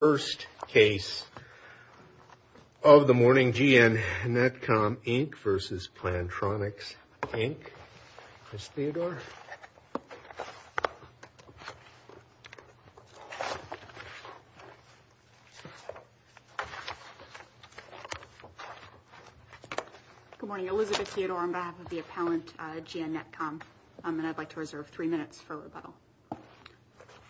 First case of the morning, GN Netcom Inc v. Plantronics Inc, Chris Theodore. Good morning, Elizabeth Theodore on behalf of the appellant, GN Netcom. And I'd like to reserve three minutes for rebuttal.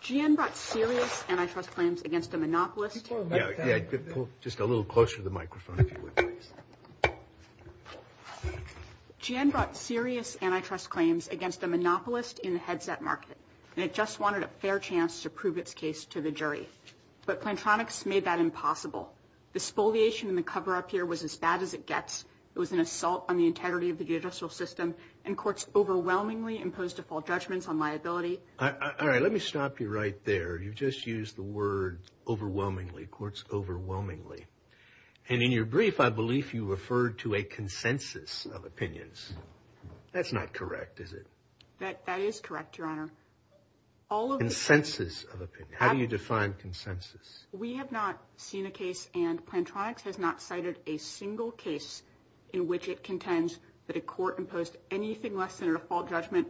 GN brought serious antitrust claims against a monopolist. Yeah, yeah, pull just a little closer to the microphone, if you would, please. GN brought serious antitrust claims against a monopolist in the headset market. And it just wanted a fair chance to prove its case to the jury. But Plantronics made that impossible. The spoliation in the cover up here was as bad as it gets. It was an assault on the integrity of the judicial system. And courts overwhelmingly imposed default judgments on liability. All right, let me stop you right there. You've just used the word overwhelmingly, courts overwhelmingly. And in your brief, I believe you referred to a consensus of opinions. That's not correct, is it? That is correct, Your Honor. Consensus of opinion, how do you define consensus? We have not seen a case, and Plantronics has not cited a single case in which it contends that a court imposed anything less than a default judgment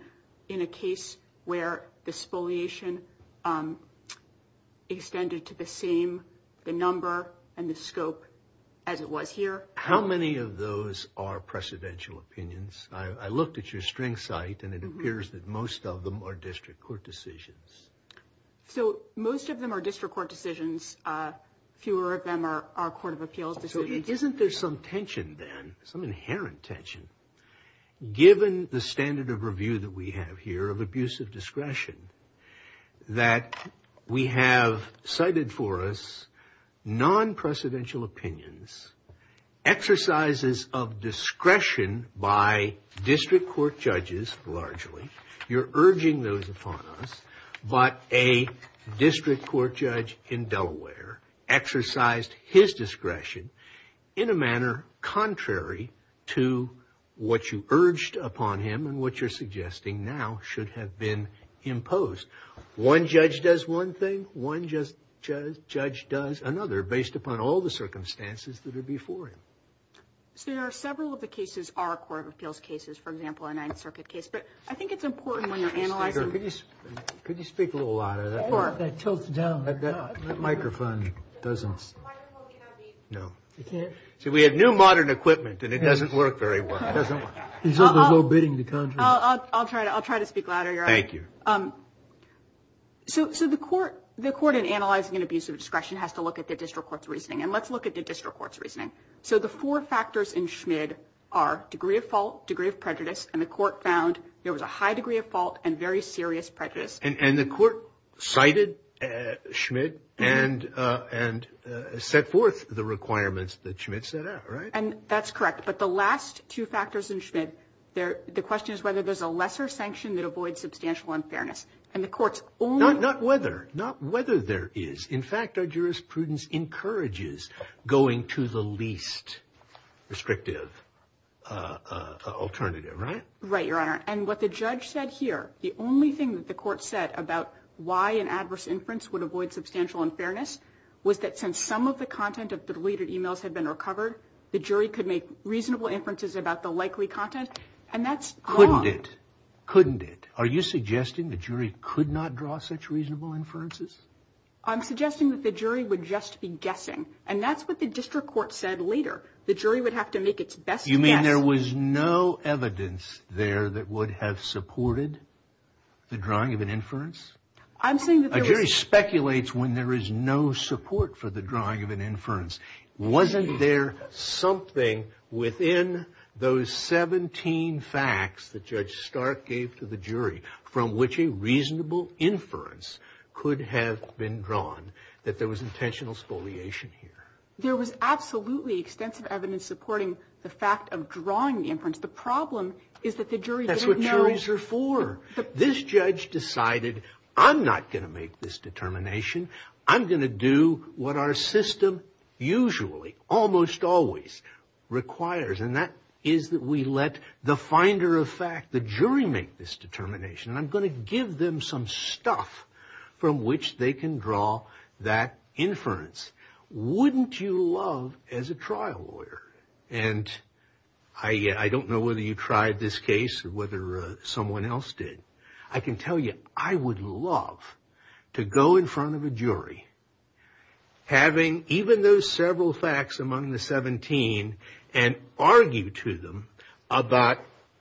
in a case where the spoliation extended to the same, the number and the scope as it was here. How many of those are precedential opinions? I looked at your string site, and it appears that most of them are district court decisions. So most of them are district court decisions. Fewer of them are court of appeals decisions. So isn't there some tension then, some inherent tension? Given the standard of review that we have here of abusive discretion, that we have cited for us non-precedential opinions, exercises of discretion by district court judges, largely. You're urging those upon us, but a district court judge in Delaware exercised his discretion in a manner contrary to what you urged upon him and what you're suggesting now should have been imposed. One judge does one thing, one judge does another, based upon all the circumstances that are before him. So there are several of the cases are court of appeals cases, for example, a Ninth Circuit case. But I think it's important when you're analyzing... Could you speak a little louder? Of course. That tilts it down. That microphone doesn't... The microphone cannot be... No. So we have new modern equipment and it doesn't work very well. It doesn't work. There's no bidding to contradict. I'll try to speak louder, Your Honor. Thank you. So the court in analyzing an abusive discretion has to look at the district court's reasoning. And let's look at the district court's reasoning. So the four factors in Schmid are degree of fault, degree of prejudice, and the court found there was a high degree of fault and very serious prejudice. And the court cited Schmid and set forth the requirements that Schmid set out, right? And that's correct. But the last two factors in Schmid, the question is whether there's a lesser sanction that avoids substantial unfairness. And the court's only... Not whether. Not whether there is. In fact, our jurisprudence encourages going to the least restrictive alternative, right? Right, Your Honor. Right, Your Honor. And what the judge said here, the only thing that the court said about why an adverse inference would avoid substantial unfairness was that since some of the content of the deleted emails had been recovered, the jury could make reasonable inferences about the likely content. And that's wrong. Couldn't it? Couldn't it? Are you suggesting the jury could not draw such reasonable inferences? I'm suggesting that the jury would just be guessing. And that's what the district court said later. The jury would have to make its best guess. And there was no evidence there that would have supported the drawing of an inference? I'm saying that there was... A jury speculates when there is no support for the drawing of an inference. Wasn't there something within those 17 facts that Judge Stark gave to the jury from which a reasonable inference could have been drawn that there was intentional spoliation here? There was absolutely extensive evidence supporting the fact of drawing the inference. The problem is that the jury didn't know... That's what juries are for. This judge decided, I'm not going to make this determination. I'm going to do what our system usually, almost always, requires. And that is that we let the finder of fact, the jury, make this determination. And I'm going to give them some stuff from which they can draw that inference. Wouldn't you love, as a trial lawyer... And I don't know whether you tried this case or whether someone else did. I can tell you, I would love to go in front of a jury, having even those several facts among the 17, and argue to them about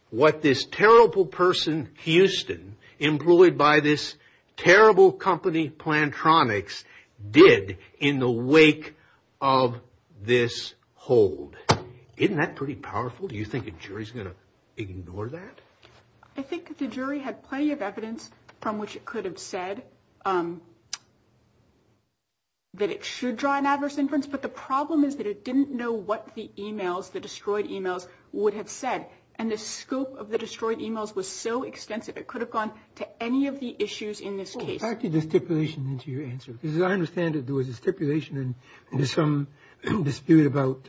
what this terrible person, Houston, employed by this terrible company Plantronics did in the wake of this hold. Isn't that pretty powerful? Do you think a jury is going to ignore that? I think the jury had plenty of evidence from which it could have said that it should draw an adverse inference, but the problem is that it didn't know what the emails, the destroyed emails, would have said. And the scope of the destroyed emails was so extensive, it could have gone to any of the issues in this case. Well, what attracted the stipulation into your answer? Because I understand that there was a stipulation, and there's some dispute about,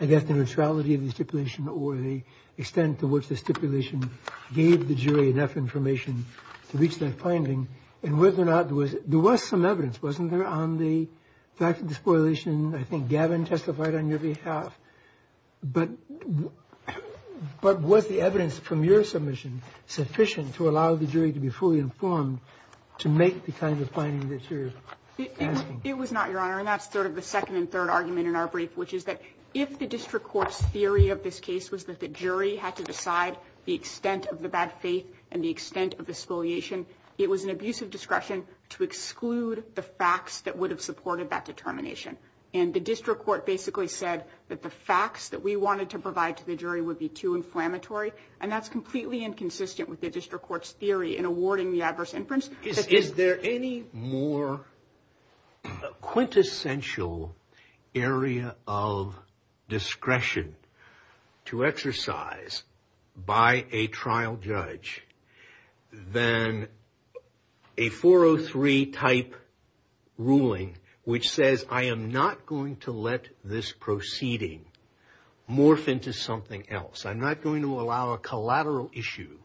I guess, the neutrality of the stipulation or the extent to which the stipulation gave the jury enough information to reach that finding. And whether or not there was some evidence, wasn't there, on the fact of the spoliation? I think Gavin testified on your behalf. But was the evidence from your submission sufficient to allow the jury to be fully informed to make the kind of finding that you're asking? It was not, Your Honor. And that's sort of the second and third argument in our brief, which is that if the district court's theory of this case was that the jury had to decide the extent of the bad faith and the extent of the spoliation, it was an abuse of discretion to exclude the facts that would have supported that determination. And the district court basically said that the facts that we wanted to provide to the jury would be too inflammatory. And that's completely inconsistent with the district court's theory in awarding the adverse inference. Is there any more quintessential area of discretion to exercise by a trial judge than a 403-type ruling which says, I am not going to let this proceeding morph into something else. I'm not going to allow a collateral issue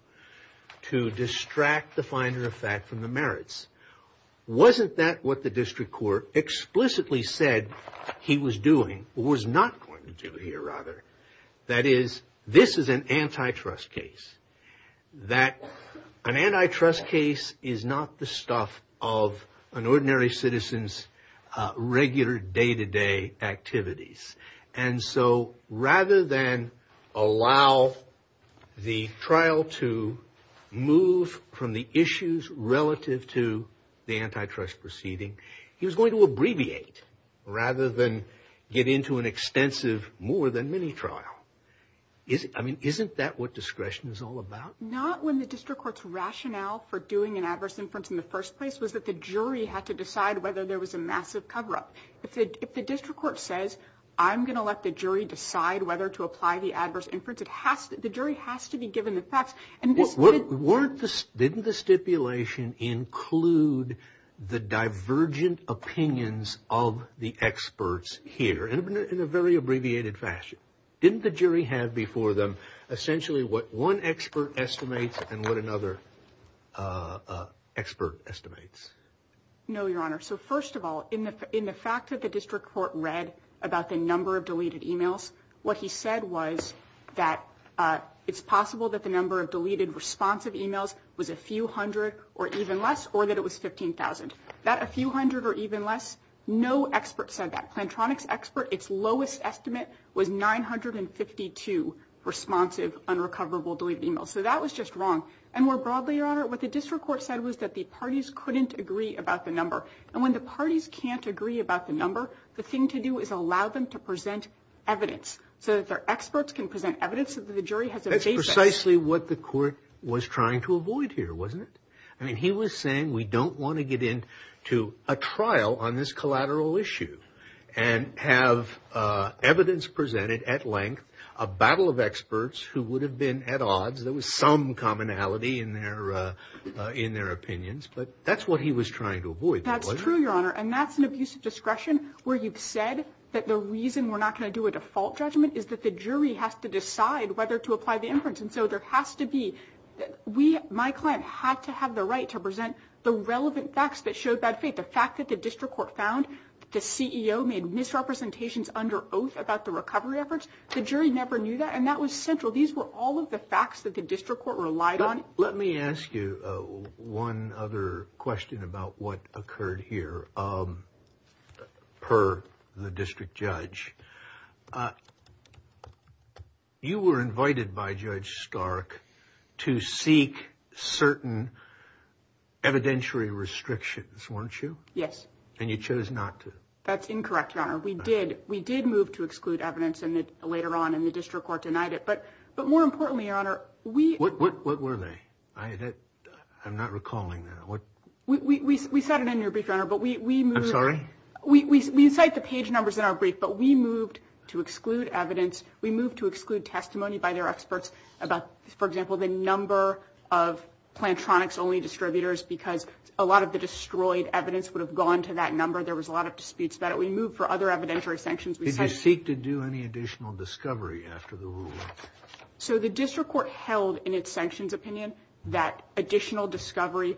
to distract the finder of fact from the merits. Wasn't that what the district court explicitly said he was doing, or was not going to do here, rather? That is, this is an antitrust case. An antitrust case is not the stuff of an ordinary citizen's regular day-to-day activities. And so rather than allow the trial to move from the issues relative to the antitrust proceeding, he was going to abbreviate rather than get into an extensive, more than mini-trial. Isn't that what discretion is all about? Not when the district court's rationale for doing an adverse inference in the first place was that the jury had to decide whether there was a massive cover-up. If the district court says, I'm going to let the jury decide whether to apply the adverse inference, the jury has to be given the facts. Didn't the stipulation include the divergent opinions of the experts here in a very abbreviated fashion? Didn't the jury have before them essentially what one expert estimates and what another expert estimates? No, Your Honor. So first of all, in the fact that the district court read about the number of deleted e-mails, what he said was that it's possible that the number of deleted responsive e-mails was a few hundred or even less, or that it was 15,000. That a few hundred or even less, no expert said that. Plantronics expert, its lowest estimate was 952 responsive unrecoverable deleted e-mails. So that was just wrong. And more broadly, Your Honor, what the district court said was that the parties couldn't agree about the number. And when the parties can't agree about the number, the thing to do is allow them to present evidence, so that their experts can present evidence that the jury has a basis. That's precisely what the court was trying to avoid here, wasn't it? I mean, he was saying we don't want to get into a trial on this collateral issue and have evidence presented at length, a battle of experts who would have been at odds. There was some commonality in their opinions, but that's what he was trying to avoid. That's true, Your Honor. And that's an abuse of discretion where you've said that the reason we're not going to do a default judgment is that the jury has to decide whether to apply the inference. And so there has to be – my client had to have the right to present the relevant facts that showed bad faith. The fact that the district court found the CEO made misrepresentations under oath about the recovery efforts, the jury never knew that, and that was central. These were all of the facts that the district court relied on. Let me ask you one other question about what occurred here per the district judge. You were invited by Judge Stark to seek certain evidentiary restrictions, weren't you? Yes. And you chose not to. That's incorrect, Your Honor. We did move to exclude evidence, and later on in the district court denied it. But more importantly, Your Honor, we – What were they? I'm not recalling them. We said it in your brief, Your Honor, but we – I'm sorry? We cite the page numbers in our brief, but we moved to exclude evidence. We moved to exclude testimony by their experts about, for example, the number of Plantronics-only distributors because a lot of the destroyed evidence would have gone to that number. There was a lot of disputes about it. We moved for other evidentiary sanctions. Did you seek to do any additional discovery after the ruling? So the district court held in its sanctions opinion that additional discovery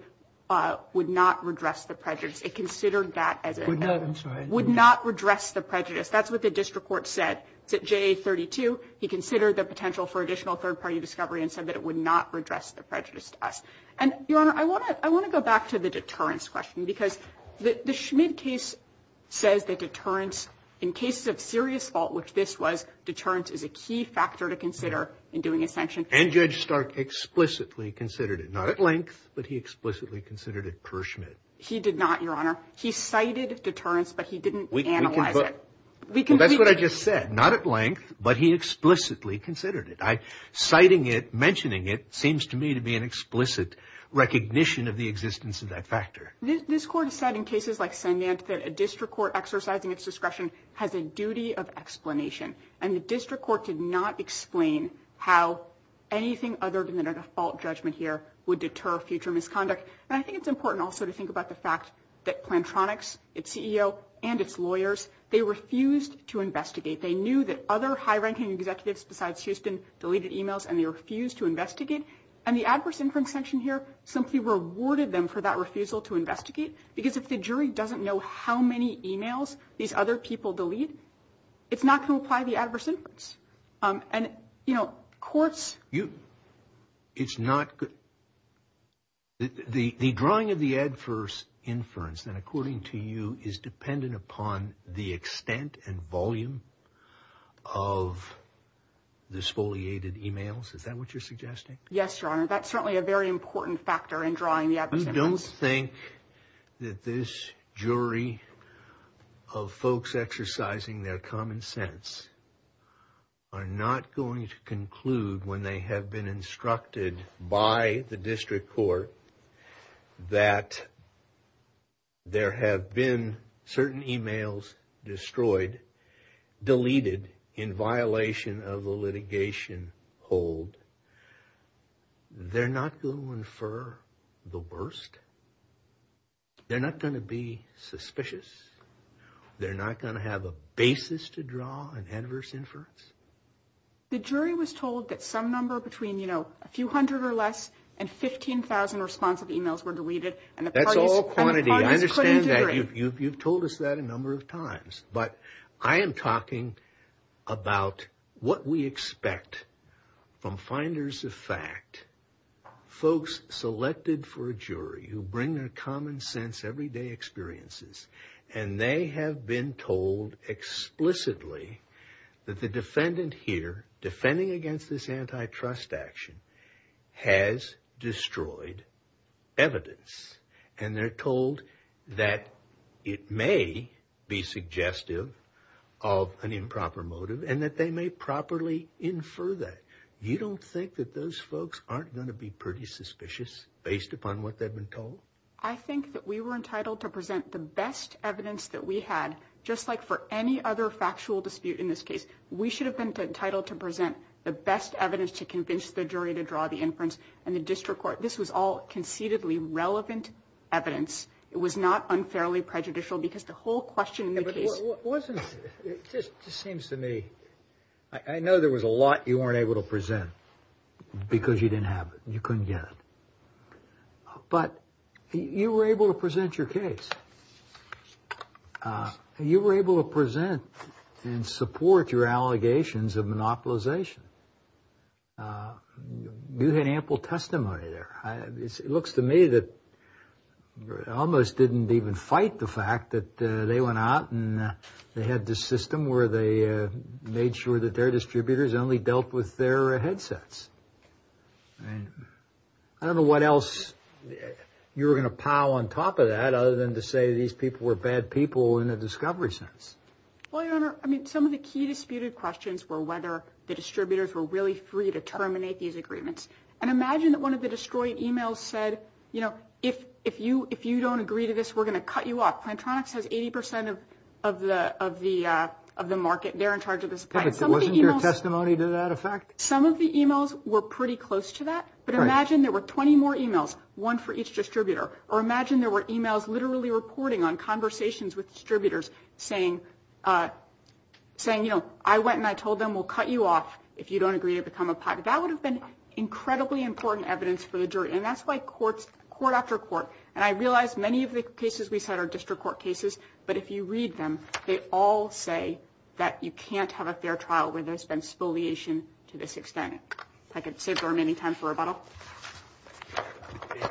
would not redress the prejudice. It considered that as a – Would not. I'm sorry. Would not redress the prejudice. That's what the district court said. It's at JA32. He considered the potential for additional third-party discovery and said that it would not redress the prejudice to us. And, Your Honor, I want to go back to the deterrence question because the Schmid case says that deterrence in cases of serious fault, which this was, deterrence is a key factor to consider in doing a sanction. And Judge Stark explicitly considered it. Not at length, but he explicitly considered it per Schmid. He did not, Your Honor. He cited deterrence, but he didn't analyze it. Well, that's what I just said. Not at length, but he explicitly considered it. Citing it, mentioning it, seems to me to be an explicit recognition of the existence of that factor. This Court has said in cases like Sandant that a district court exercising its discretion has a duty of explanation. And the district court did not explain how anything other than a default judgment here would deter future misconduct. And I think it's important also to think about the fact that Plantronics, its CEO, and its lawyers, they refused to investigate. They knew that other high-ranking executives besides Houston deleted emails, and they refused to investigate. And the adverse inference sanction here simply rewarded them for that refusal to investigate because if the jury doesn't know how many emails these other people delete, it's not going to apply the adverse inference. And, you know, courts... You... It's not... The drawing of the adverse inference, then, according to you, is dependent upon the extent and volume of the exfoliated emails? Is that what you're suggesting? Yes, Your Honor. That's certainly a very important factor in drawing the adverse inference. You don't think that this jury of folks exercising their common sense are not going to conclude when they have been instructed by the district court that there have been certain emails destroyed, deleted, in violation of the litigation hold? They're not going for the worst? They're not going to be suspicious? They're not going to have a basis to draw an adverse inference? The jury was told that some number between, you know, a few hundred or less and 15,000 responsive emails were deleted, and the parties couldn't agree. That's all quantity. You've told us that a number of times. But I am talking about what we expect from finders of fact, folks selected for a jury who bring their common sense, everyday experiences, and they have been told explicitly that the defendant here, defending against this antitrust action, has destroyed evidence. And they're told that it may be suggestive of an improper motive, and that they may properly infer that. You don't think that those folks aren't going to be pretty suspicious, based upon what they've been told? I think that we were entitled to present the best evidence that we had, just like for any other factual dispute in this case. We should have been entitled to present the best evidence to convince the jury to draw the inference in the district court. This was all concededly relevant evidence. It was not unfairly prejudicial, because the whole question in the case... It just seems to me, I know there was a lot you weren't able to present, because you didn't have it. You couldn't get it. But you were able to present your case. You were able to present and support your allegations of monopolization. You had ample testimony there. It looks to me that you almost didn't even fight the fact that they went out and they had this system where they made sure that their distributors only dealt with their headsets. I don't know what else you were going to pile on top of that, other than to say these people were bad people in a discovery sense. Well, Your Honor, I mean, some of the key disputed questions were whether the distributors were really free to terminate these agreements. And imagine that one of the destroyed emails said, you know, if you don't agree to this, we're going to cut you off. Plantronics has 80% of the market. They're in charge of this plant. But wasn't your testimony to that effect? Some of the emails were pretty close to that. But imagine there were 20 more emails, one for each distributor. Or imagine there were emails literally reporting on conversations with distributors saying, you know, I went and I told them we'll cut you off if you don't agree to become a PAC. That would have been incredibly important evidence for the jury. And that's why court after court, and I realize many of the cases we set are district court cases, but if you read them, they all say that you can't have a fair trial where there's been spoliation to this extent. If I could save very many time for rebuttal.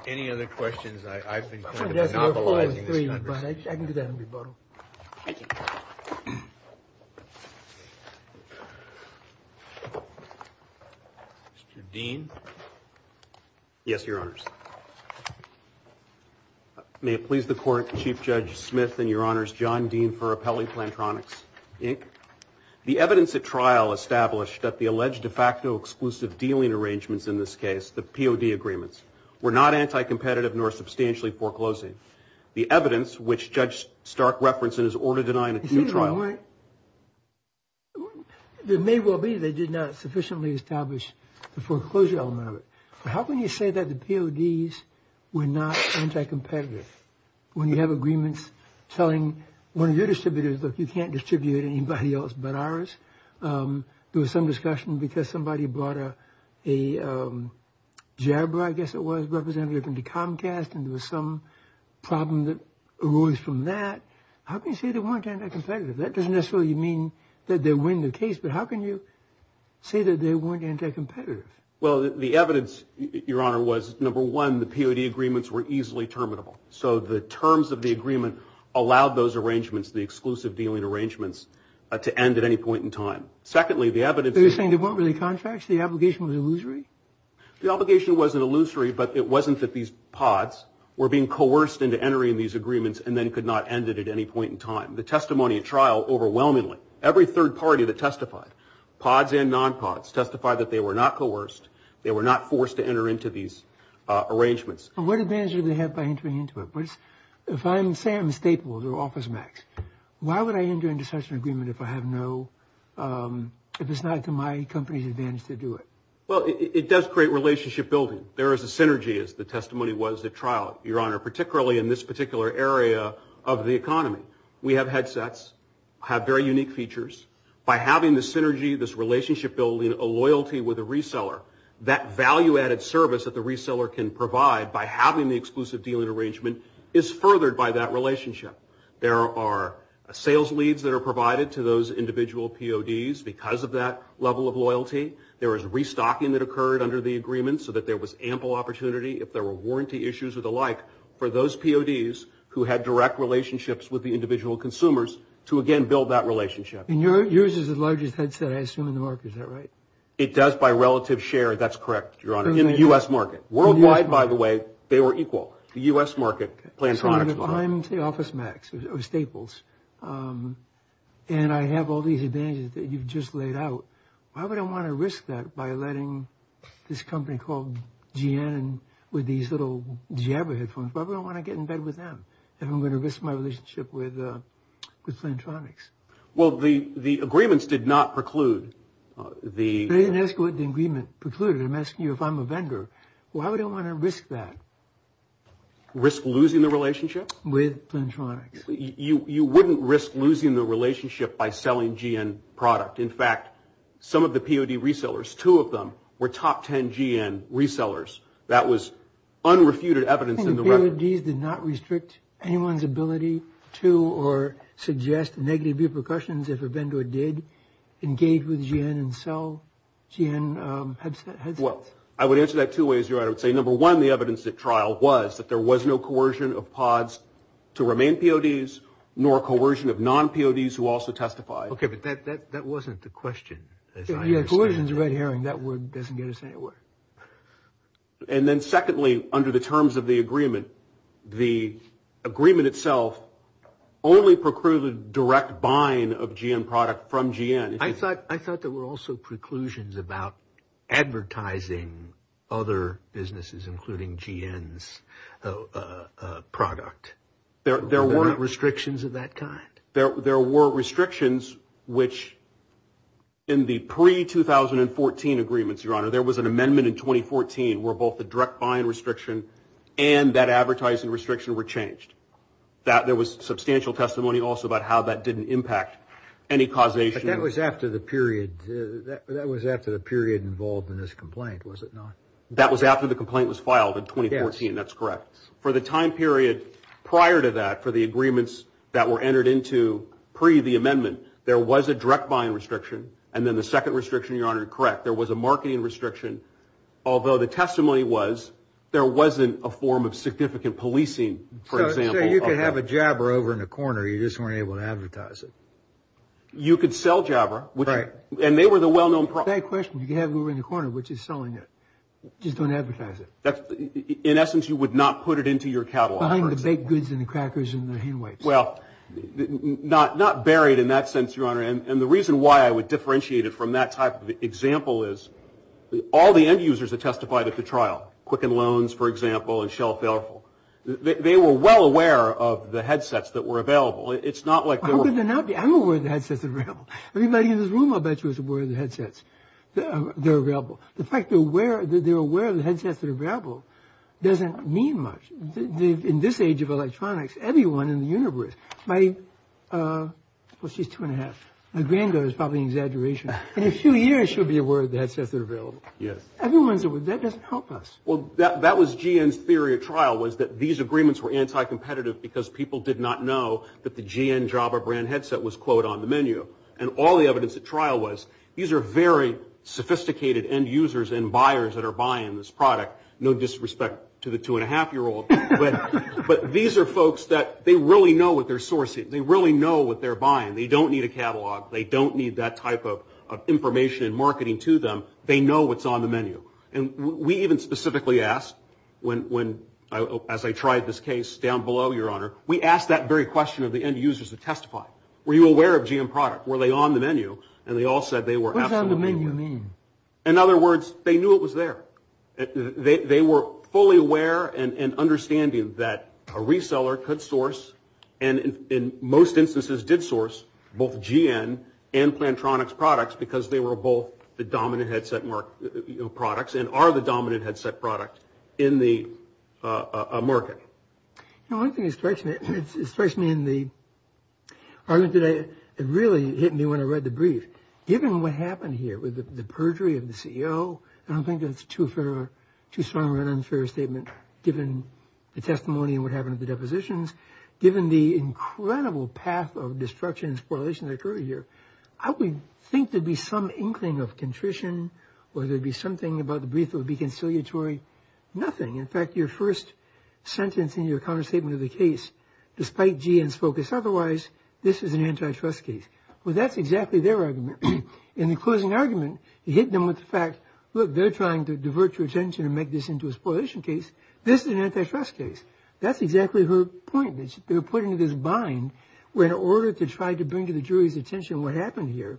Any other questions? I've been kind of novelizing this conversation. I can do that in rebuttal. Thank you. Mr. Dean? Yes, Your Honors. May it please the court, Chief Judge Smith and Your Honors, John Dean for Appellee Plantronics, Inc. The evidence at trial established that the alleged de facto exclusive dealing arrangements in this case, the POD agreements, were not anti-competitive nor substantially foreclosing. The evidence, which Judge Stark referenced in his order denying a due trial. It may well be they did not sufficiently establish the foreclosure element of it. How can you say that the PODs were not anti-competitive when you have agreements telling one of your distributors, look, you can't distribute anybody else but ours? There was some discussion because somebody brought a jabber, I guess it was, representative into Comcast, and there was some problem that arose from that. How can you say they weren't anti-competitive? That doesn't necessarily mean that they win the case, but how can you say that they weren't anti-competitive? Well, the evidence, Your Honor, was number one, the POD agreements were easily terminable. So the terms of the agreement allowed those arrangements, the exclusive dealing arrangements, to end at any point in time. Secondly, the evidence. So you're saying they weren't really contracts? The obligation was illusory? The obligation wasn't illusory, but it wasn't that these PODs were being coerced into entering these agreements and then could not end it at any point in time. The testimony at trial overwhelmingly, every third party that testified, PODs and non-PODs, testified that they were not coerced, they were not forced to enter into these arrangements. And what advantage do they have by entering into it? If I'm saying I'm stapled or OfficeMax, why would I enter into such an agreement if I have no, if it's not to my company's advantage to do it? Well, it does create relationship building. There is a synergy, as the testimony was at trial, Your Honor, particularly in this particular area of the economy. We have headsets, have very unique features. By having the synergy, this relationship building, a loyalty with a reseller, that value-added service that the reseller can provide by having the exclusive dealing arrangement is furthered by that relationship. There are sales leads that are provided to those individual PODs because of that level of loyalty. There is restocking that occurred under the agreement so that there was ample opportunity, if there were warranty issues or the like, for those PODs who had direct relationships with the individual consumers to, again, build that relationship. And yours is the largest headset, I assume, in the market. Is that right? It does by relative share, that's correct, Your Honor, in the U.S. market. Worldwide, by the way, they were equal. The U.S. market, Plantronics were. I'm the OfficeMax, or Staples, and I have all these advantages that you've just laid out. Why would I want to risk that by letting this company called GN with these little Jabra headphones? Why would I want to get in bed with them if I'm going to risk my relationship with Plantronics? Well, the agreements did not preclude the – I didn't ask what the agreement precluded. I'm asking you if I'm a vendor. Why would I want to risk that? Risk losing the relationship? With Plantronics. You wouldn't risk losing the relationship by selling GN product. In fact, some of the POD resellers, two of them, were top 10 GN resellers. That was unrefuted evidence in the record. PODs did not restrict anyone's ability to or suggest negative repercussions if a vendor did engage with GN and sell GN headsets? Well, I would answer that two ways, Your Honor. I would say, number one, the evidence at trial was that there was no coercion of PODs to remain PODs nor coercion of non-PODs who also testify. Okay, but that wasn't the question, as I understand it. Yeah, coercion is a red herring. That word doesn't get us anywhere. And then secondly, under the terms of the agreement, the agreement itself only precluded direct buying of GN product from GN. I thought there were also preclusions about advertising other businesses, including GN's product. There weren't restrictions of that kind? There were restrictions, which in the pre-2014 agreements, Your Honor, there was an amendment in 2014 where both the direct buying restriction and that advertising restriction were changed. There was substantial testimony also about how that didn't impact any causation. But that was after the period involved in this complaint, was it not? That was after the complaint was filed in 2014. That's correct. For the time period prior to that, for the agreements that were entered into pre-the amendment, there was a direct buying restriction, and then the second restriction, Your Honor, correct, there was a marketing restriction, although the testimony was there wasn't a form of significant policing, for example. So you could have a Jabra over in the corner. You just weren't able to advertise it. You could sell Jabra. Right. And they were the well-known product. Same question. You could have it over in the corner, which is selling it. Just don't advertise it. In essence, you would not put it into your catalog, for example. Well, not buried in that sense, Your Honor. And the reason why I would differentiate it from that type of example is all the end users that testified at the trial, Quicken Loans, for example, and Shell Failful, they were well aware of the headsets that were available. It's not like they were – How could they not be? I'm aware of the headsets that are available. Everybody in this room, I'll bet you, is aware of the headsets that are available. The fact that they're aware of the headsets that are available doesn't mean much. In this age of electronics, everyone in the universe might – well, she's two and a half. My granddaughter is probably an exaggeration. In a few years, she'll be aware of the headsets that are available. Yes. Everyone's aware. That doesn't help us. Well, that was GN's theory at trial was that these agreements were anti-competitive because people did not know that the GN Jabra brand headset was, quote, on the menu. And all the evidence at trial was these are very sophisticated end users and buyers that are buying this product. No disrespect to the two-and-a-half-year-old. But these are folks that they really know what they're sourcing. They really know what they're buying. They don't need a catalog. They don't need that type of information and marketing to them. They know what's on the menu. And we even specifically asked, as I tried this case down below, Your Honor, we asked that very question of the end users to testify. Were you aware of GN product? Were they on the menu? And they all said they were absolutely aware. What does on the menu mean? In other words, they knew it was there. They were fully aware and understanding that a reseller could source and in most instances did source both GN and Plantronics products because they were both the dominant headset products and are the dominant headset product in the market. You know, one thing that strikes me in the argument today, it really hit me when I read the brief. Given what happened here with the perjury of the CEO, I don't think that's too strong of an unfair statement given the testimony and what happened at the depositions. Given the incredible path of destruction and spoilers that occurred here, I would think there'd be some inkling of contrition or there'd be something about the brief that would be conciliatory. Nothing. In fact, your first sentence in your counterstatement of the case, despite GN's focus otherwise, this is an antitrust case. Well, that's exactly their argument. In the closing argument, you hit them with the fact, look, they're trying to divert your attention and make this into a spoilation case. This is an antitrust case. That's exactly her point. They were put into this bind where in order to try to bring to the jury's attention what happened here,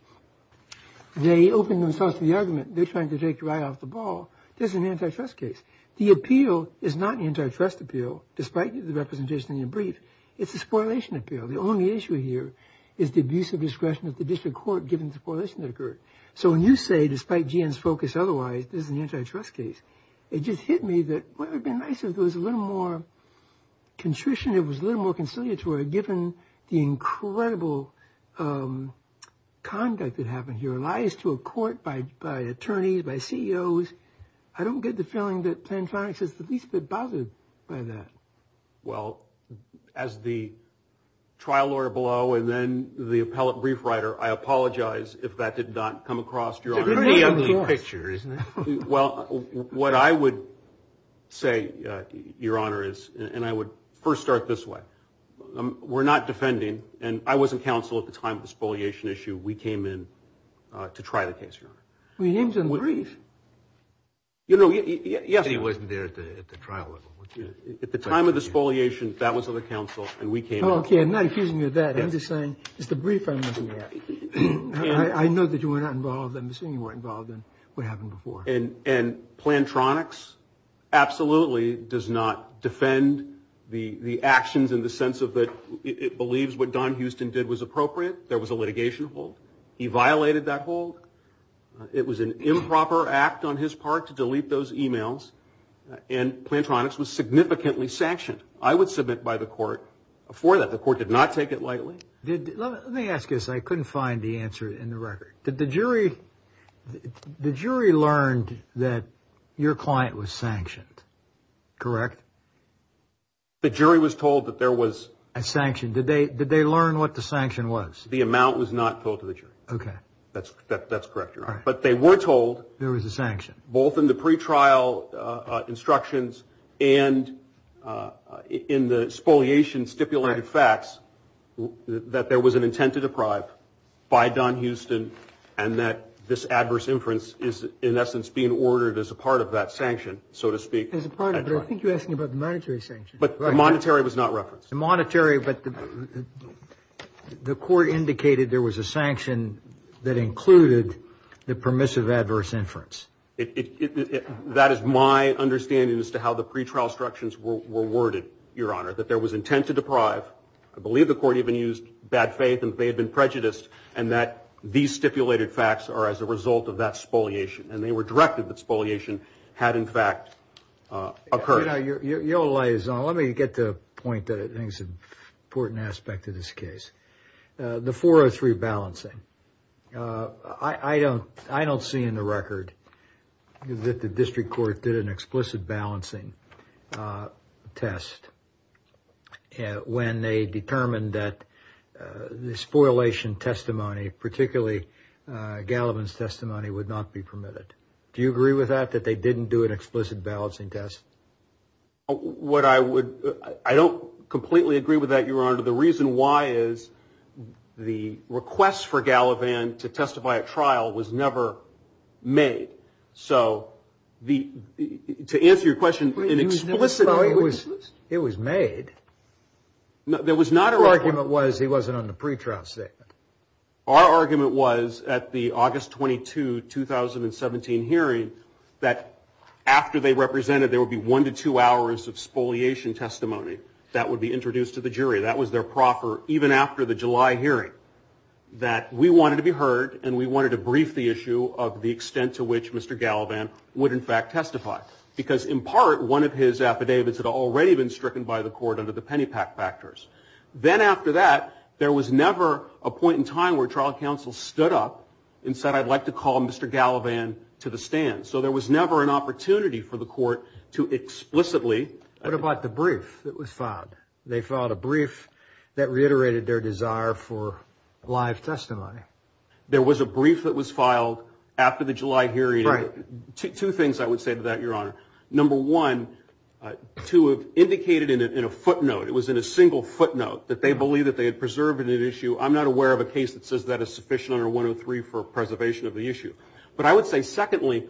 they opened themselves to the argument. They're trying to take you right off the ball. This is an antitrust case. The appeal is not an antitrust appeal, despite the representation in your brief. It's a spoilation appeal. The only issue here is the abuse of discretion of the district court given the correlation that occurred. So when you say, despite GN's focus otherwise, this is an antitrust case, it just hit me that what would have been nice if there was a little more contrition, if it was a little more conciliatory given the incredible conduct that happened here, lies to a court by attorneys, by CEOs. I don't get the feeling that Plantronics is the least bit bothered by that. Well, as the trial lawyer below and then the appellate brief writer, I apologize if that did not come across your honor. It's a very ugly picture, isn't it? Well, what I would say, your honor, is, and I would first start this way. We're not defending, and I was in counsel at the time of the spoliation issue. We came in to try the case, your honor. Well, your name's in the brief. You know, yes. He wasn't there at the trial level. At the time of the spoliation, that was in the counsel, and we came in. Okay, I'm not accusing you of that. I'm just saying, it's the brief I'm looking at. I know that you were not involved. I'm assuming you weren't involved in what happened before. And Plantronics absolutely does not defend the actions in the sense of that it believes what Don Houston did was appropriate. There was a litigation hold. He violated that hold. It was an improper act on his part to delete those emails, and Plantronics was significantly sanctioned. I would submit by the court for that. The court did not take it lightly. Let me ask you this. I couldn't find the answer in the record. Did the jury learn that your client was sanctioned? Correct? The jury was told that there was a sanction. Did they learn what the sanction was? The amount was not told to the jury. Okay. That's correct, Your Honor. But they were told. There was a sanction. Both in the pretrial instructions and in the spoliation stipulated facts, that there was an intent to deprive by Don Houston and that this adverse inference is, in essence, being ordered as a part of that sanction, so to speak. As a part of it. I think you're asking about the monetary sanction. But the monetary was not referenced. The monetary, but the court indicated there was a sanction that included the permissive adverse inference. That is my understanding as to how the pretrial instructions were worded, Your Honor, that there was intent to deprive. I believe the court even used bad faith and that they had been prejudiced and that these stipulated facts are as a result of that spoliation. And they were directed that spoliation had, in fact, occurred. Your Honor, you're a liaison. Let me get to a point that I think is an important aspect of this case. The 403 balancing. I don't see in the record that the district court did an explicit balancing test when they determined that the spoliation testimony, particularly Gallivan's testimony, would not be permitted. Do you agree with that, that they didn't do an explicit balancing test? What I would – I don't completely agree with that, Your Honor. The reason why is the request for Gallivan to testify at trial was never made. So to answer your question, an explicit – Well, it was made. There was not a – Our argument was he wasn't on the pretrial statement. Our argument was at the August 22, 2017 hearing that after they represented, there would be one to two hours of spoliation testimony that would be introduced to the jury. That was their proffer even after the July hearing, that we wanted to be heard and we wanted to brief the issue of the extent to which Mr. Gallivan would, in fact, testify. Because in part, one of his affidavits had already been stricken by the court under the Pennypack factors. Then after that, there was never a point in time where trial counsel stood up and said, I'd like to call Mr. Gallivan to the stand. So there was never an opportunity for the court to explicitly – What about the brief that was filed? They filed a brief that reiterated their desire for live testimony. There was a brief that was filed after the July hearing. Right. Two things I would say to that, Your Honor. Number one, to have indicated in a footnote – it was in a single footnote – that they believe that they had preserved in an issue. I'm not aware of a case that says that is sufficient under 103 for preservation of the issue. But I would say, secondly,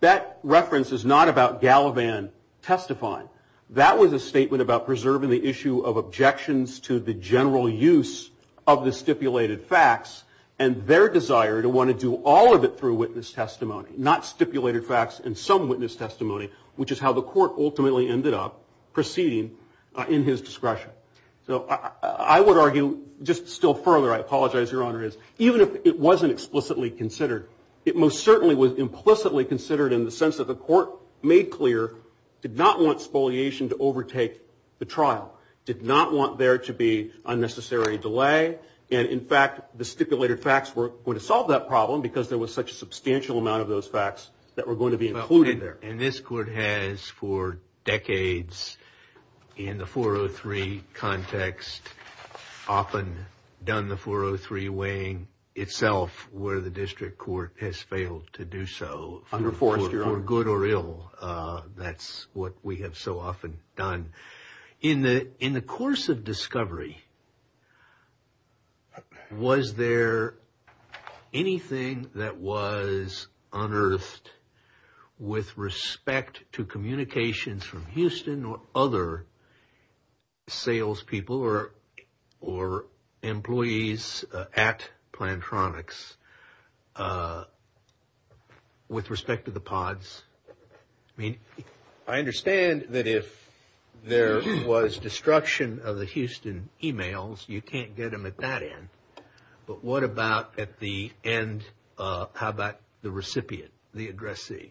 that reference is not about Gallivan testifying. That was a statement about preserving the issue of objections to the general use of the stipulated facts and their desire to want to do all of it through witness testimony, not stipulated facts and some witness testimony, which is how the court ultimately ended up proceeding in his discretion. So I would argue just still further – I apologize, Your Honor – is even if it wasn't explicitly considered, it most certainly was implicitly considered in the sense that the court made clear did not want spoliation to overtake the trial, did not want there to be unnecessary delay, and, in fact, the stipulated facts were going to solve that problem because there was such a substantial amount of those facts that were going to be included there. And this court has for decades in the 403 context often done the 403 weighing itself where the district court has failed to do so. Under force, Your Honor. For good or ill. That's what we have so often done. In the course of discovery, was there anything that was unearthed with respect to communications from Houston or other salespeople or employees at Plantronics with respect to the pods? I mean, I understand that if there was destruction of the Houston e-mails, you can't get them at that end. But what about at the end, how about the recipient, the addressee?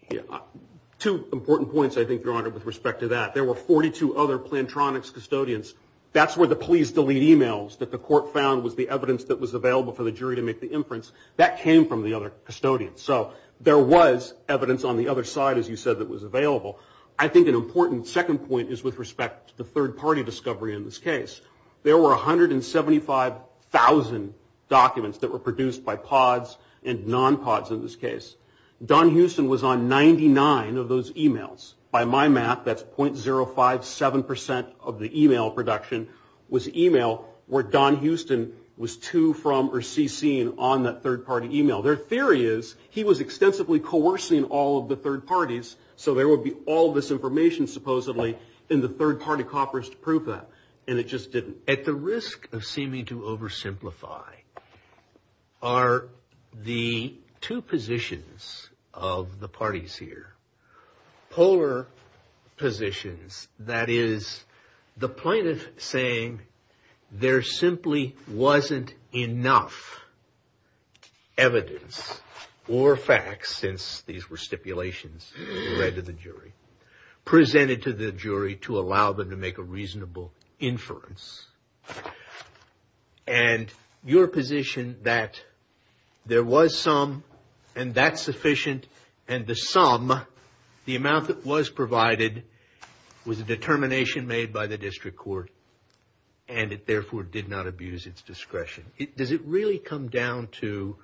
Two important points, I think, Your Honor, with respect to that. There were 42 other Plantronics custodians. That's where the police delete e-mails that the court found was the evidence that was available for the jury to make the inference. That came from the other custodians. So there was evidence on the other side, as you said, that was available. I think an important second point is with respect to the third-party discovery in this case. There were 175,000 documents that were produced by pods and non-pods in this case. Don Houston was on 99 of those e-mails. By my math, that's .057% of the e-mail production was e-mail where Don Houston was to, from, or cc'ing on that third-party e-mail. Their theory is he was extensively coercing all of the third parties, so there would be all this information, supposedly, in the third-party coppers to prove that. And it just didn't. At the risk of seeming to oversimplify are the two positions of the parties here. Polar positions, that is, the plaintiff saying there simply wasn't enough evidence or facts, since these were stipulations read to the jury, presented to the jury to allow them to make a reasonable inference. And your position that there was some, and that's sufficient, and the sum, the amount that was provided, was a determination made by the district court, and it therefore did not abuse its discretion. Does it really come down to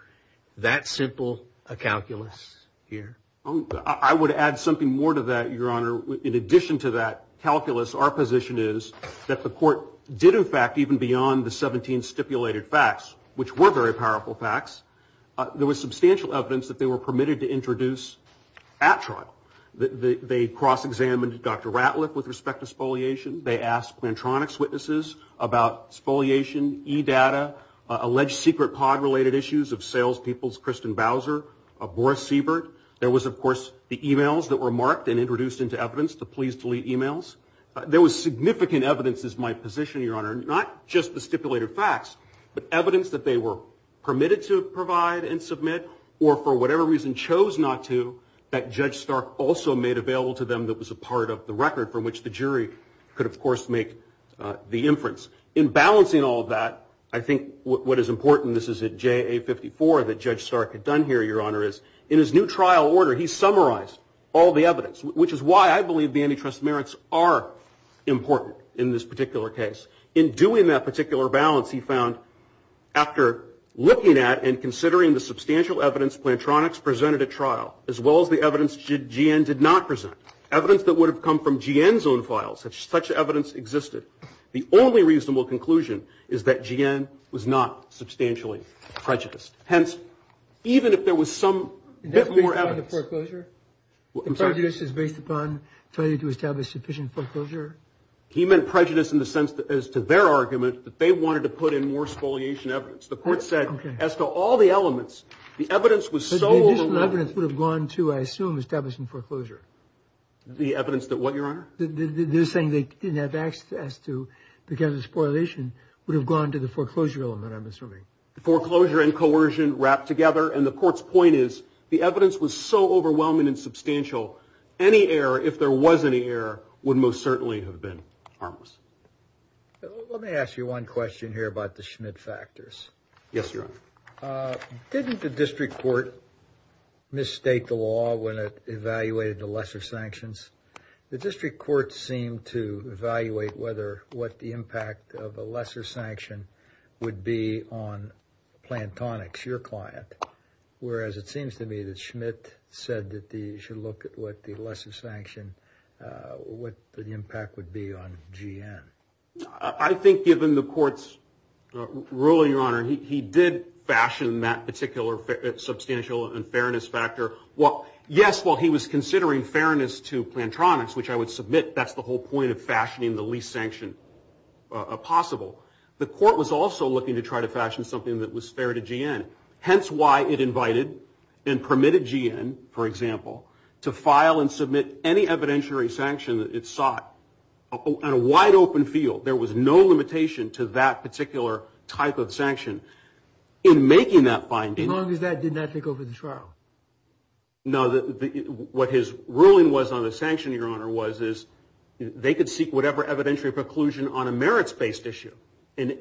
that simple a calculus here? I would add something more to that, Your Honor. In addition to that calculus, our position is that the court did, in fact, even beyond the 17 stipulated facts, which were very powerful facts, there was substantial evidence that they were permitted to introduce at trial. They cross-examined Dr. Ratliff with respect to spoliation. They asked Plantronics witnesses about spoliation, e-data, alleged secret pod-related issues of salespeople's Kristen Bowser, of Boris Seabird. There was, of course, the e-mails that were marked and introduced into evidence, the please delete e-mails. There was significant evidence, is my position, Your Honor, not just the stipulated facts but evidence that they were permitted to provide and submit or for whatever reason chose not to that Judge Stark also made available to them that was a part of the record from which the jury could, of course, make the inference. In balancing all of that, I think what is important, this is a JA-54 that Judge Stark had done here, Your Honor, is in his new trial order he summarized all the evidence, which is why I believe the antitrust merits are important in this particular case. In doing that particular balance, he found after looking at and considering the substantial evidence Plantronics presented at trial as well as the evidence G.N. did not present, evidence that would have come from G.N.'s own files if such evidence existed, the only reasonable conclusion is that G.N. was not substantially prejudiced. Hence, even if there was some bit more evidence. The prejudice is based upon failure to establish sufficient foreclosure? He meant prejudice in the sense as to their argument that they wanted to put in more spoliation evidence. The court said as to all the elements, the evidence was so overwhelming. The additional evidence would have gone to, I assume, establishing foreclosure. The evidence that what, Your Honor? They're saying they didn't have access to because of the spoliation would have gone to the foreclosure element, I'm assuming. Foreclosure and coercion wrapped together, and the court's point is the evidence was so overwhelming and substantial so any error, if there was any error, would most certainly have been harmless. Let me ask you one question here about the Schmidt factors. Yes, Your Honor. Didn't the district court misstate the law when it evaluated the lesser sanctions? The district court seemed to evaluate what the impact of a lesser sanction would be on Plantronics, your client, whereas it seems to me that Schmidt said that you should look at what the lesser sanction, what the impact would be on GN. I think given the court's ruling, Your Honor, he did fashion that particular substantial unfairness factor. Yes, while he was considering fairness to Plantronics, which I would submit that's the whole point of fashioning the least sanction possible, the court was also looking to try to fashion something that was fair to GN. Hence why it invited and permitted GN, for example, to file and submit any evidentiary sanction that it sought on a wide-open field. There was no limitation to that particular type of sanction. In making that finding... As long as that did not take over the trial. No, what his ruling was on the sanction, Your Honor, was they could seek whatever evidentiary preclusion on a merits-based issue,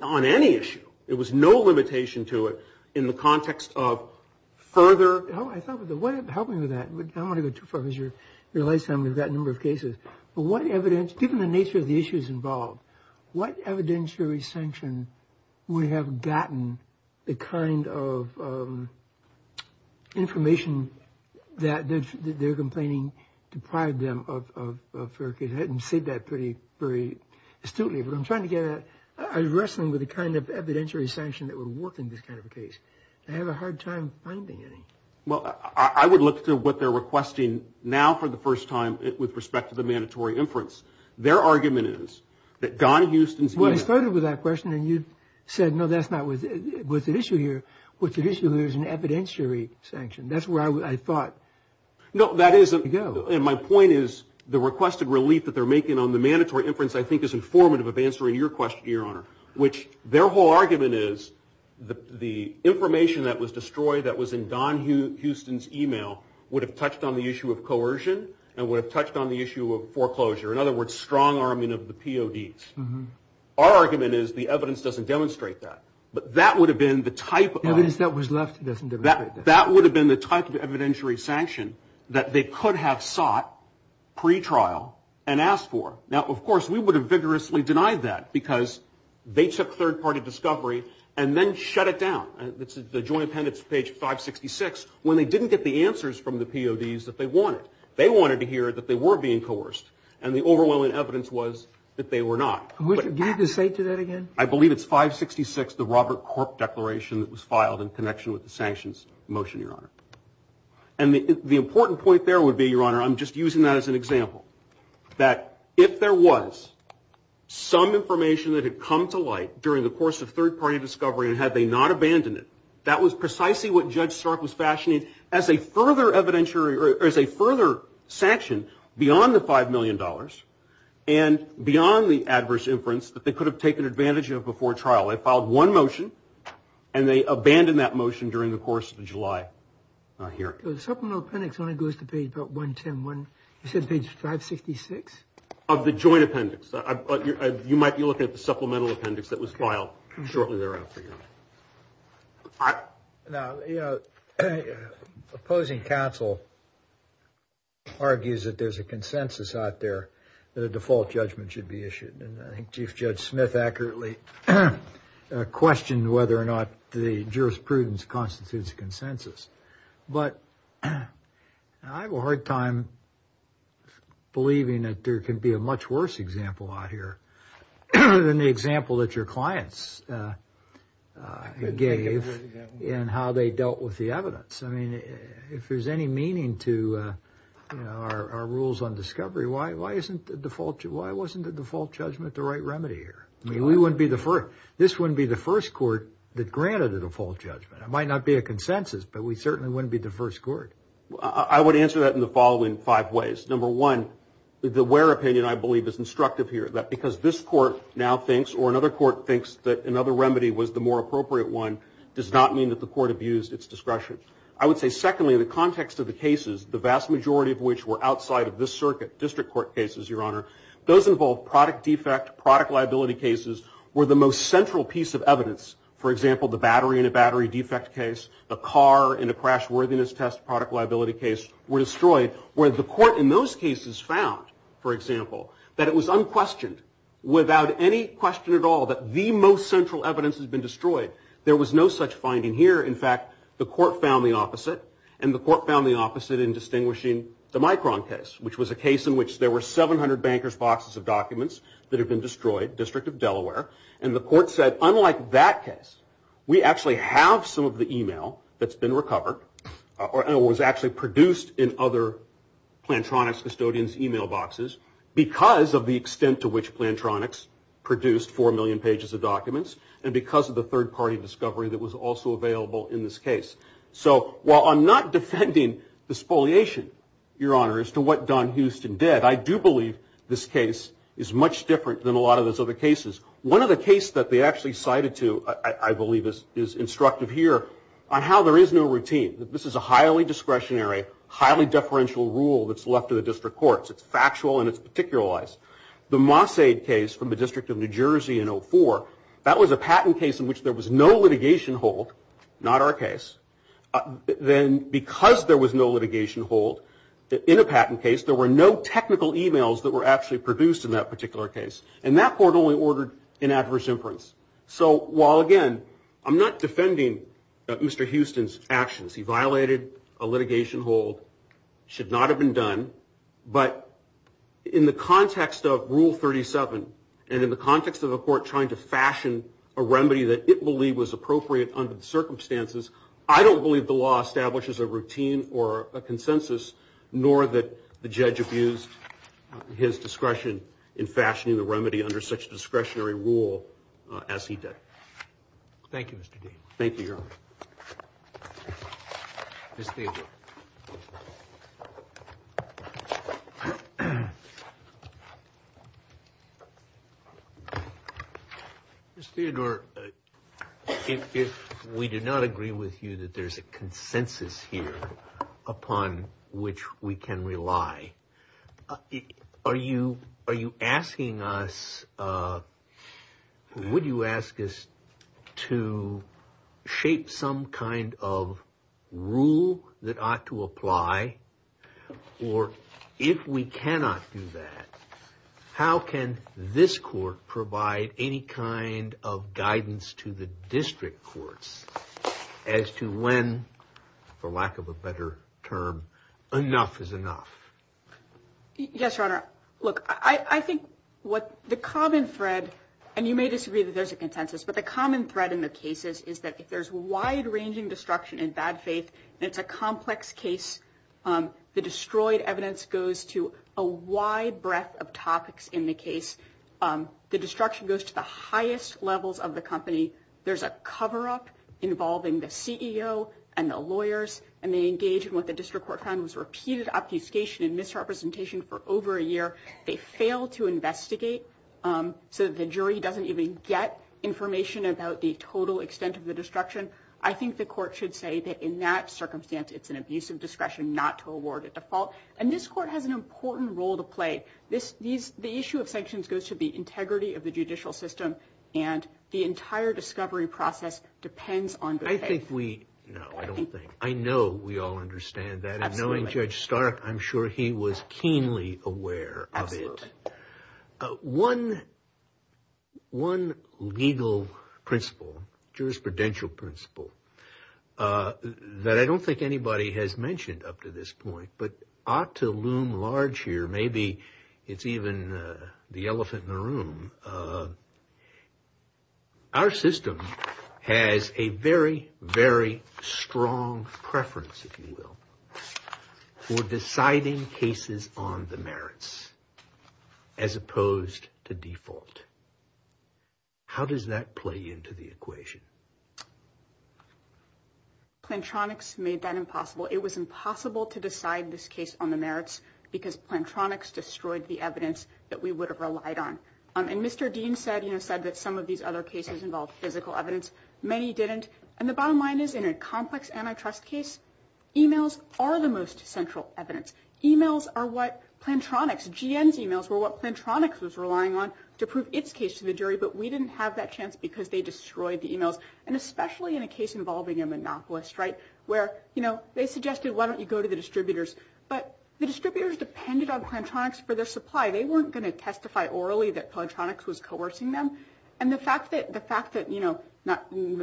on any issue. There was no limitation to it in the context of further... I thought the way of helping with that... I don't want to go too far because you realize we've got a number of cases. But what evidence... Given the nature of the issues involved, what evidentiary sanction would have gotten the kind of information that they're complaining deprived them of fair case? I didn't say that very astutely, but I'm trying to get at... I'm wrestling with the kind of evidentiary sanction that would work in this kind of a case. I have a hard time finding any. Well, I would look to what they're requesting now for the first time with respect to the mandatory inference. Their argument is that Don Houston's... Well, I started with that question and you said, no, that's not what's at issue here. What's at issue here is an evidentiary sanction. That's where I thought... No, that isn't... And my point is the requested relief that they're making on the mandatory inference, I think, is informative of answering your question, Your Honor, which their whole argument is the information that was destroyed that was in Don Houston's email would have touched on the issue of coercion and would have touched on the issue of foreclosure. In other words, strong arming of the PODs. Our argument is the evidence doesn't demonstrate that. But that would have been the type of... The evidence that was left doesn't demonstrate that. That would have been the type of evidentiary sanction that they could have sought pretrial and asked for. Now, of course, we would have vigorously denied that because they took third-party discovery and then shut it down. It's the Joint Appendix, page 566, when they didn't get the answers from the PODs that they wanted. They wanted to hear that they were being coerced, and the overwhelming evidence was that they were not. Do you need to say to that again? I believe it's 566, the Robert Corp declaration that was filed in connection with the sanctions motion, Your Honor. And the important point there would be, Your Honor, I'm just using that as an example, that if there was some information that had come to light during the course of third-party discovery and had they not abandoned it, that was precisely what Judge Stark was fashioning as a further sanction beyond the $5 million and beyond the adverse inference that they could have taken advantage of before trial. They filed one motion, and they abandoned that motion during the course of the July hearing. The Supplemental Appendix only goes to page about 110. You said page 566? Of the Joint Appendix. You might be looking at the Supplemental Appendix that was filed shortly thereafter, Your Honor. Opposing counsel argues that there's a consensus out there that a default judgment should be issued, and I think Chief Judge Smith accurately questioned whether or not the jurisprudence constitutes a consensus. But I have a hard time believing that there can be a much worse example out here than the example that your clients gave in how they dealt with the evidence. I mean, if there's any meaning to our rules on discovery, why wasn't the default judgment the right remedy here? I mean, this wouldn't be the first court that granted a default judgment. It might not be a consensus, but we certainly wouldn't be the first court. I would answer that in the following five ways. Number one, the where opinion, I believe, is instructive here. Because this court now thinks, or another court thinks, that another remedy was the more appropriate one does not mean that the court abused its discretion. I would say, secondly, in the context of the cases, the vast majority of which were outside of this circuit, district court cases, Your Honor, those involved product defect, product liability cases, were the most central piece of evidence. For example, the battery in a battery defect case, a car in a crash worthiness test product liability case were destroyed. Where the court in those cases found, for example, that it was unquestioned, without any question at all, that the most central evidence had been destroyed. There was no such finding here. In fact, the court found the opposite. And the court found the opposite in distinguishing the Micron case, which was a case in which there were 700 bankers' boxes of documents that had been destroyed, District of Delaware. And the court said, unlike that case, we actually have some of the email that's been recovered, or was actually produced in other Plantronics custodians' email boxes, because of the extent to which Plantronics produced 4 million pages of documents, and because of the third-party discovery that was also available in this case. So, while I'm not defending the spoliation, Your Honor, as to what Don Houston did, I do believe this case is much different than a lot of those other cases. One of the cases that they actually cited to, I believe, is instructive here on how there is no routine. This is a highly discretionary, highly deferential rule that's left to the district courts. It's factual and it's particularized. The Mossade case from the District of New Jersey in 2004, that was a patent case in which there was no litigation hold, not our case. Then, because there was no litigation hold in a patent case, there were no technical emails that were actually produced in that particular case. And that court only ordered an adverse inference. So, while, again, I'm not defending Mr. Houston's actions, he violated a litigation hold, should not have been done, but in the context of Rule 37, and in the context of a court trying to fashion a remedy that it believed was appropriate under the circumstances, nor that the judge abused his discretion in fashioning the remedy under such a discretionary rule as he did. Thank you, Mr. Dean. Thank you, Your Honor. Ms. Theodore. Ms. Theodore, if we do not agree with you that there's a consensus here upon which we can rely, are you asking us, would you ask us to shape some kind of rule that ought to apply? Or, if we cannot do that, how can this court provide any kind of guidance to the district courts as to when, for lack of a better term, enough is enough? Yes, Your Honor. Look, I think what the common thread, and you may disagree that there's a consensus, but the common thread in the cases is that if there's wide-ranging destruction in bad faith, and it's a complex case, the destroyed evidence goes to a wide breadth of topics in the case. The destruction goes to the highest levels of the company. There's a cover-up involving the CEO and the lawyers, and they engage in what the district court found was repeated obfuscation and misrepresentation for over a year. They fail to investigate so that the jury doesn't even get information about the total extent of the destruction. I think the court should say that, in that circumstance, it's an abuse of discretion not to award a default. And this court has an important role to play. The issue of sanctions goes to the integrity of the judicial system and the entire discovery process depends on good faith. I think we, no, I don't think, I know we all understand that. Absolutely. And knowing Judge Stark, I'm sure he was keenly aware of it. Absolutely. One legal principle, jurisprudential principle, that I don't think anybody has mentioned up to this point, but ought to loom large here, maybe it's even the elephant in the room, our system has a very, very strong preference, if you will, for deciding cases on the merits as opposed to default. How does that play into the equation? Plantronics made that impossible. It was impossible to decide this case on the merits because Plantronics destroyed the evidence that we would have relied on. And Mr. Dean said that some of these other cases involved physical evidence. Many didn't. And the bottom line is, in a complex antitrust case, emails are the most central evidence. Emails are what Plantronics, GN's emails, were what Plantronics was relying on to prove its case to the jury, but we didn't have that chance because they destroyed the emails, and especially in a case involving a monopolist, right, where, you know, they suggested, why don't you go to the distributors? But the distributors depended on Plantronics for their supply. They weren't going to testify orally that Plantronics was coercing them. And the fact that, you know,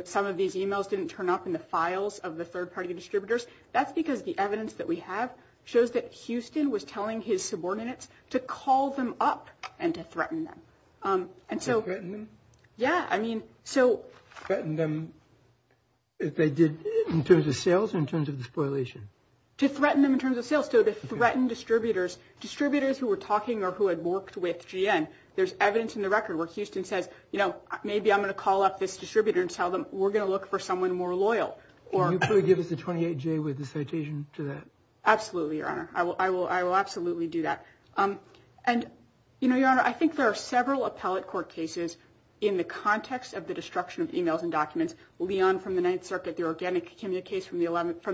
some of these emails didn't turn up in the files of the third-party distributors, that's because the evidence that we have shows that Houston was telling his subordinates to call them up and to threaten them. To threaten them? Yeah, I mean, so. Threaten them in terms of sales or in terms of the spoilation? To threaten them in terms of sales, so to threaten distributors. Distributors who were talking or who had worked with GN, there's evidence in the record where Houston says, you know, maybe I'm going to call up this distributor and tell them we're going to look for someone more loyal. Can you please give us a 28-J with the citation to that? Absolutely, Your Honor. I will absolutely do that. And, you know, Your Honor, I think there are several appellate court cases in the context of the destruction of emails and documents. Leon from the Ninth Circuit, the organic kimia case from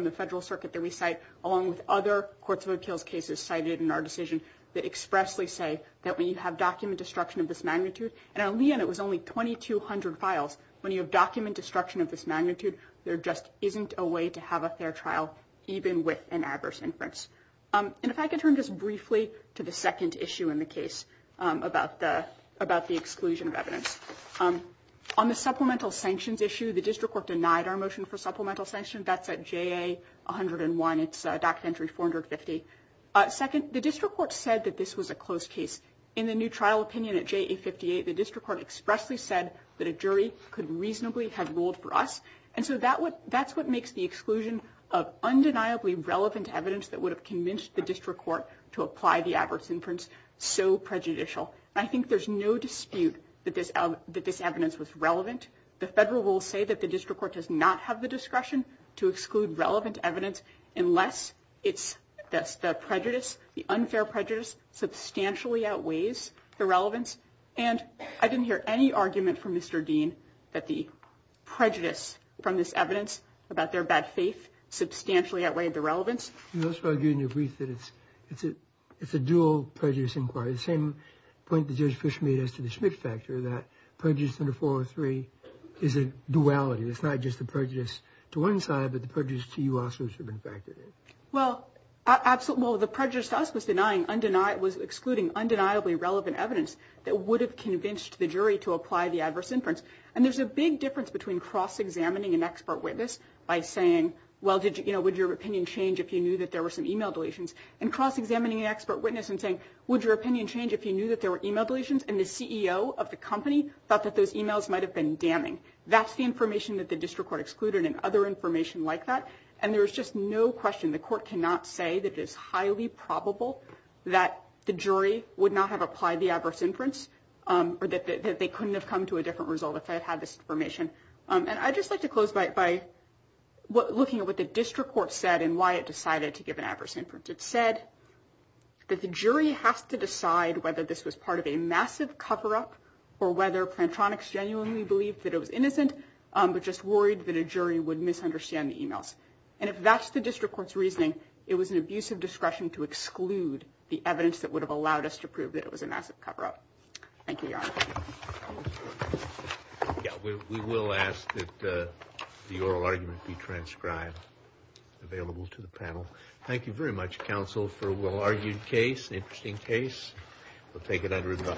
the Federal Circuit that we cite, along with other courts of appeals cases cited in our decision that expressly say that when you have document destruction of this magnitude, and on Leon it was only 2,200 files. When you have document destruction of this magnitude, there just isn't a way to have a fair trial, even with an adverse inference. And if I could turn just briefly to the second issue in the case about the exclusion of evidence. On the supplemental sanctions issue, the district court denied our motion for supplemental sanctions. That's at JA 101. It's documentary 450. Second, the district court said that this was a closed case. In the new trial opinion at JA 58, the district court expressly said that a jury could reasonably have ruled for us. And so that's what makes the exclusion of undeniably relevant evidence that would have convinced the district court to apply the adverse inference so prejudicial. And I think there's no dispute that this evidence was relevant. The federal rules say that the district court does not have the discretion to exclude relevant evidence unless it's the prejudice, the unfair prejudice substantially outweighs the relevance. And I didn't hear any argument from Mr. Dean that the prejudice from this evidence about their bad faith substantially outweighed the relevance. It's a dual prejudice inquiry. The same point that Judge Fish made as to the Schmidt factor that prejudice under 403 is a duality. It's not just the prejudice to one side, but the prejudice to you also should have been factored in. Well, absolutely. Well, the prejudice to us was denying undenied, was excluding undeniably relevant evidence that would have convinced the jury to apply the adverse inference. And there's a big difference between cross-examining an expert witness by saying, well, did you, you know, would your opinion change if you knew that there were some email deletions and cross-examining an expert witness and saying, would your opinion change if you knew that there were email deletions? And the CEO of the company thought that those emails might have been damning. That's the information that the district court excluded and other information like that. And there was just no question, the court cannot say that it is highly probable that the jury would not have applied the adverse inference or that they couldn't have come to a different result if they had had this information. And I'd just like to close by looking at what the district court said and why it decided to give an adverse inference. It said that the jury has to decide whether this was part of a massive cover-up or whether Plantronics genuinely believed that it was innocent, but just worried that a jury would misunderstand the emails. And if that's the district court's reasoning, it was an abuse of discretion to exclude the evidence that would have allowed us to prove that it was a massive cover-up. Thank you, Your Honor. Thank you very much, Counsel, for a well-argued case, an interesting case. We'll take it under review.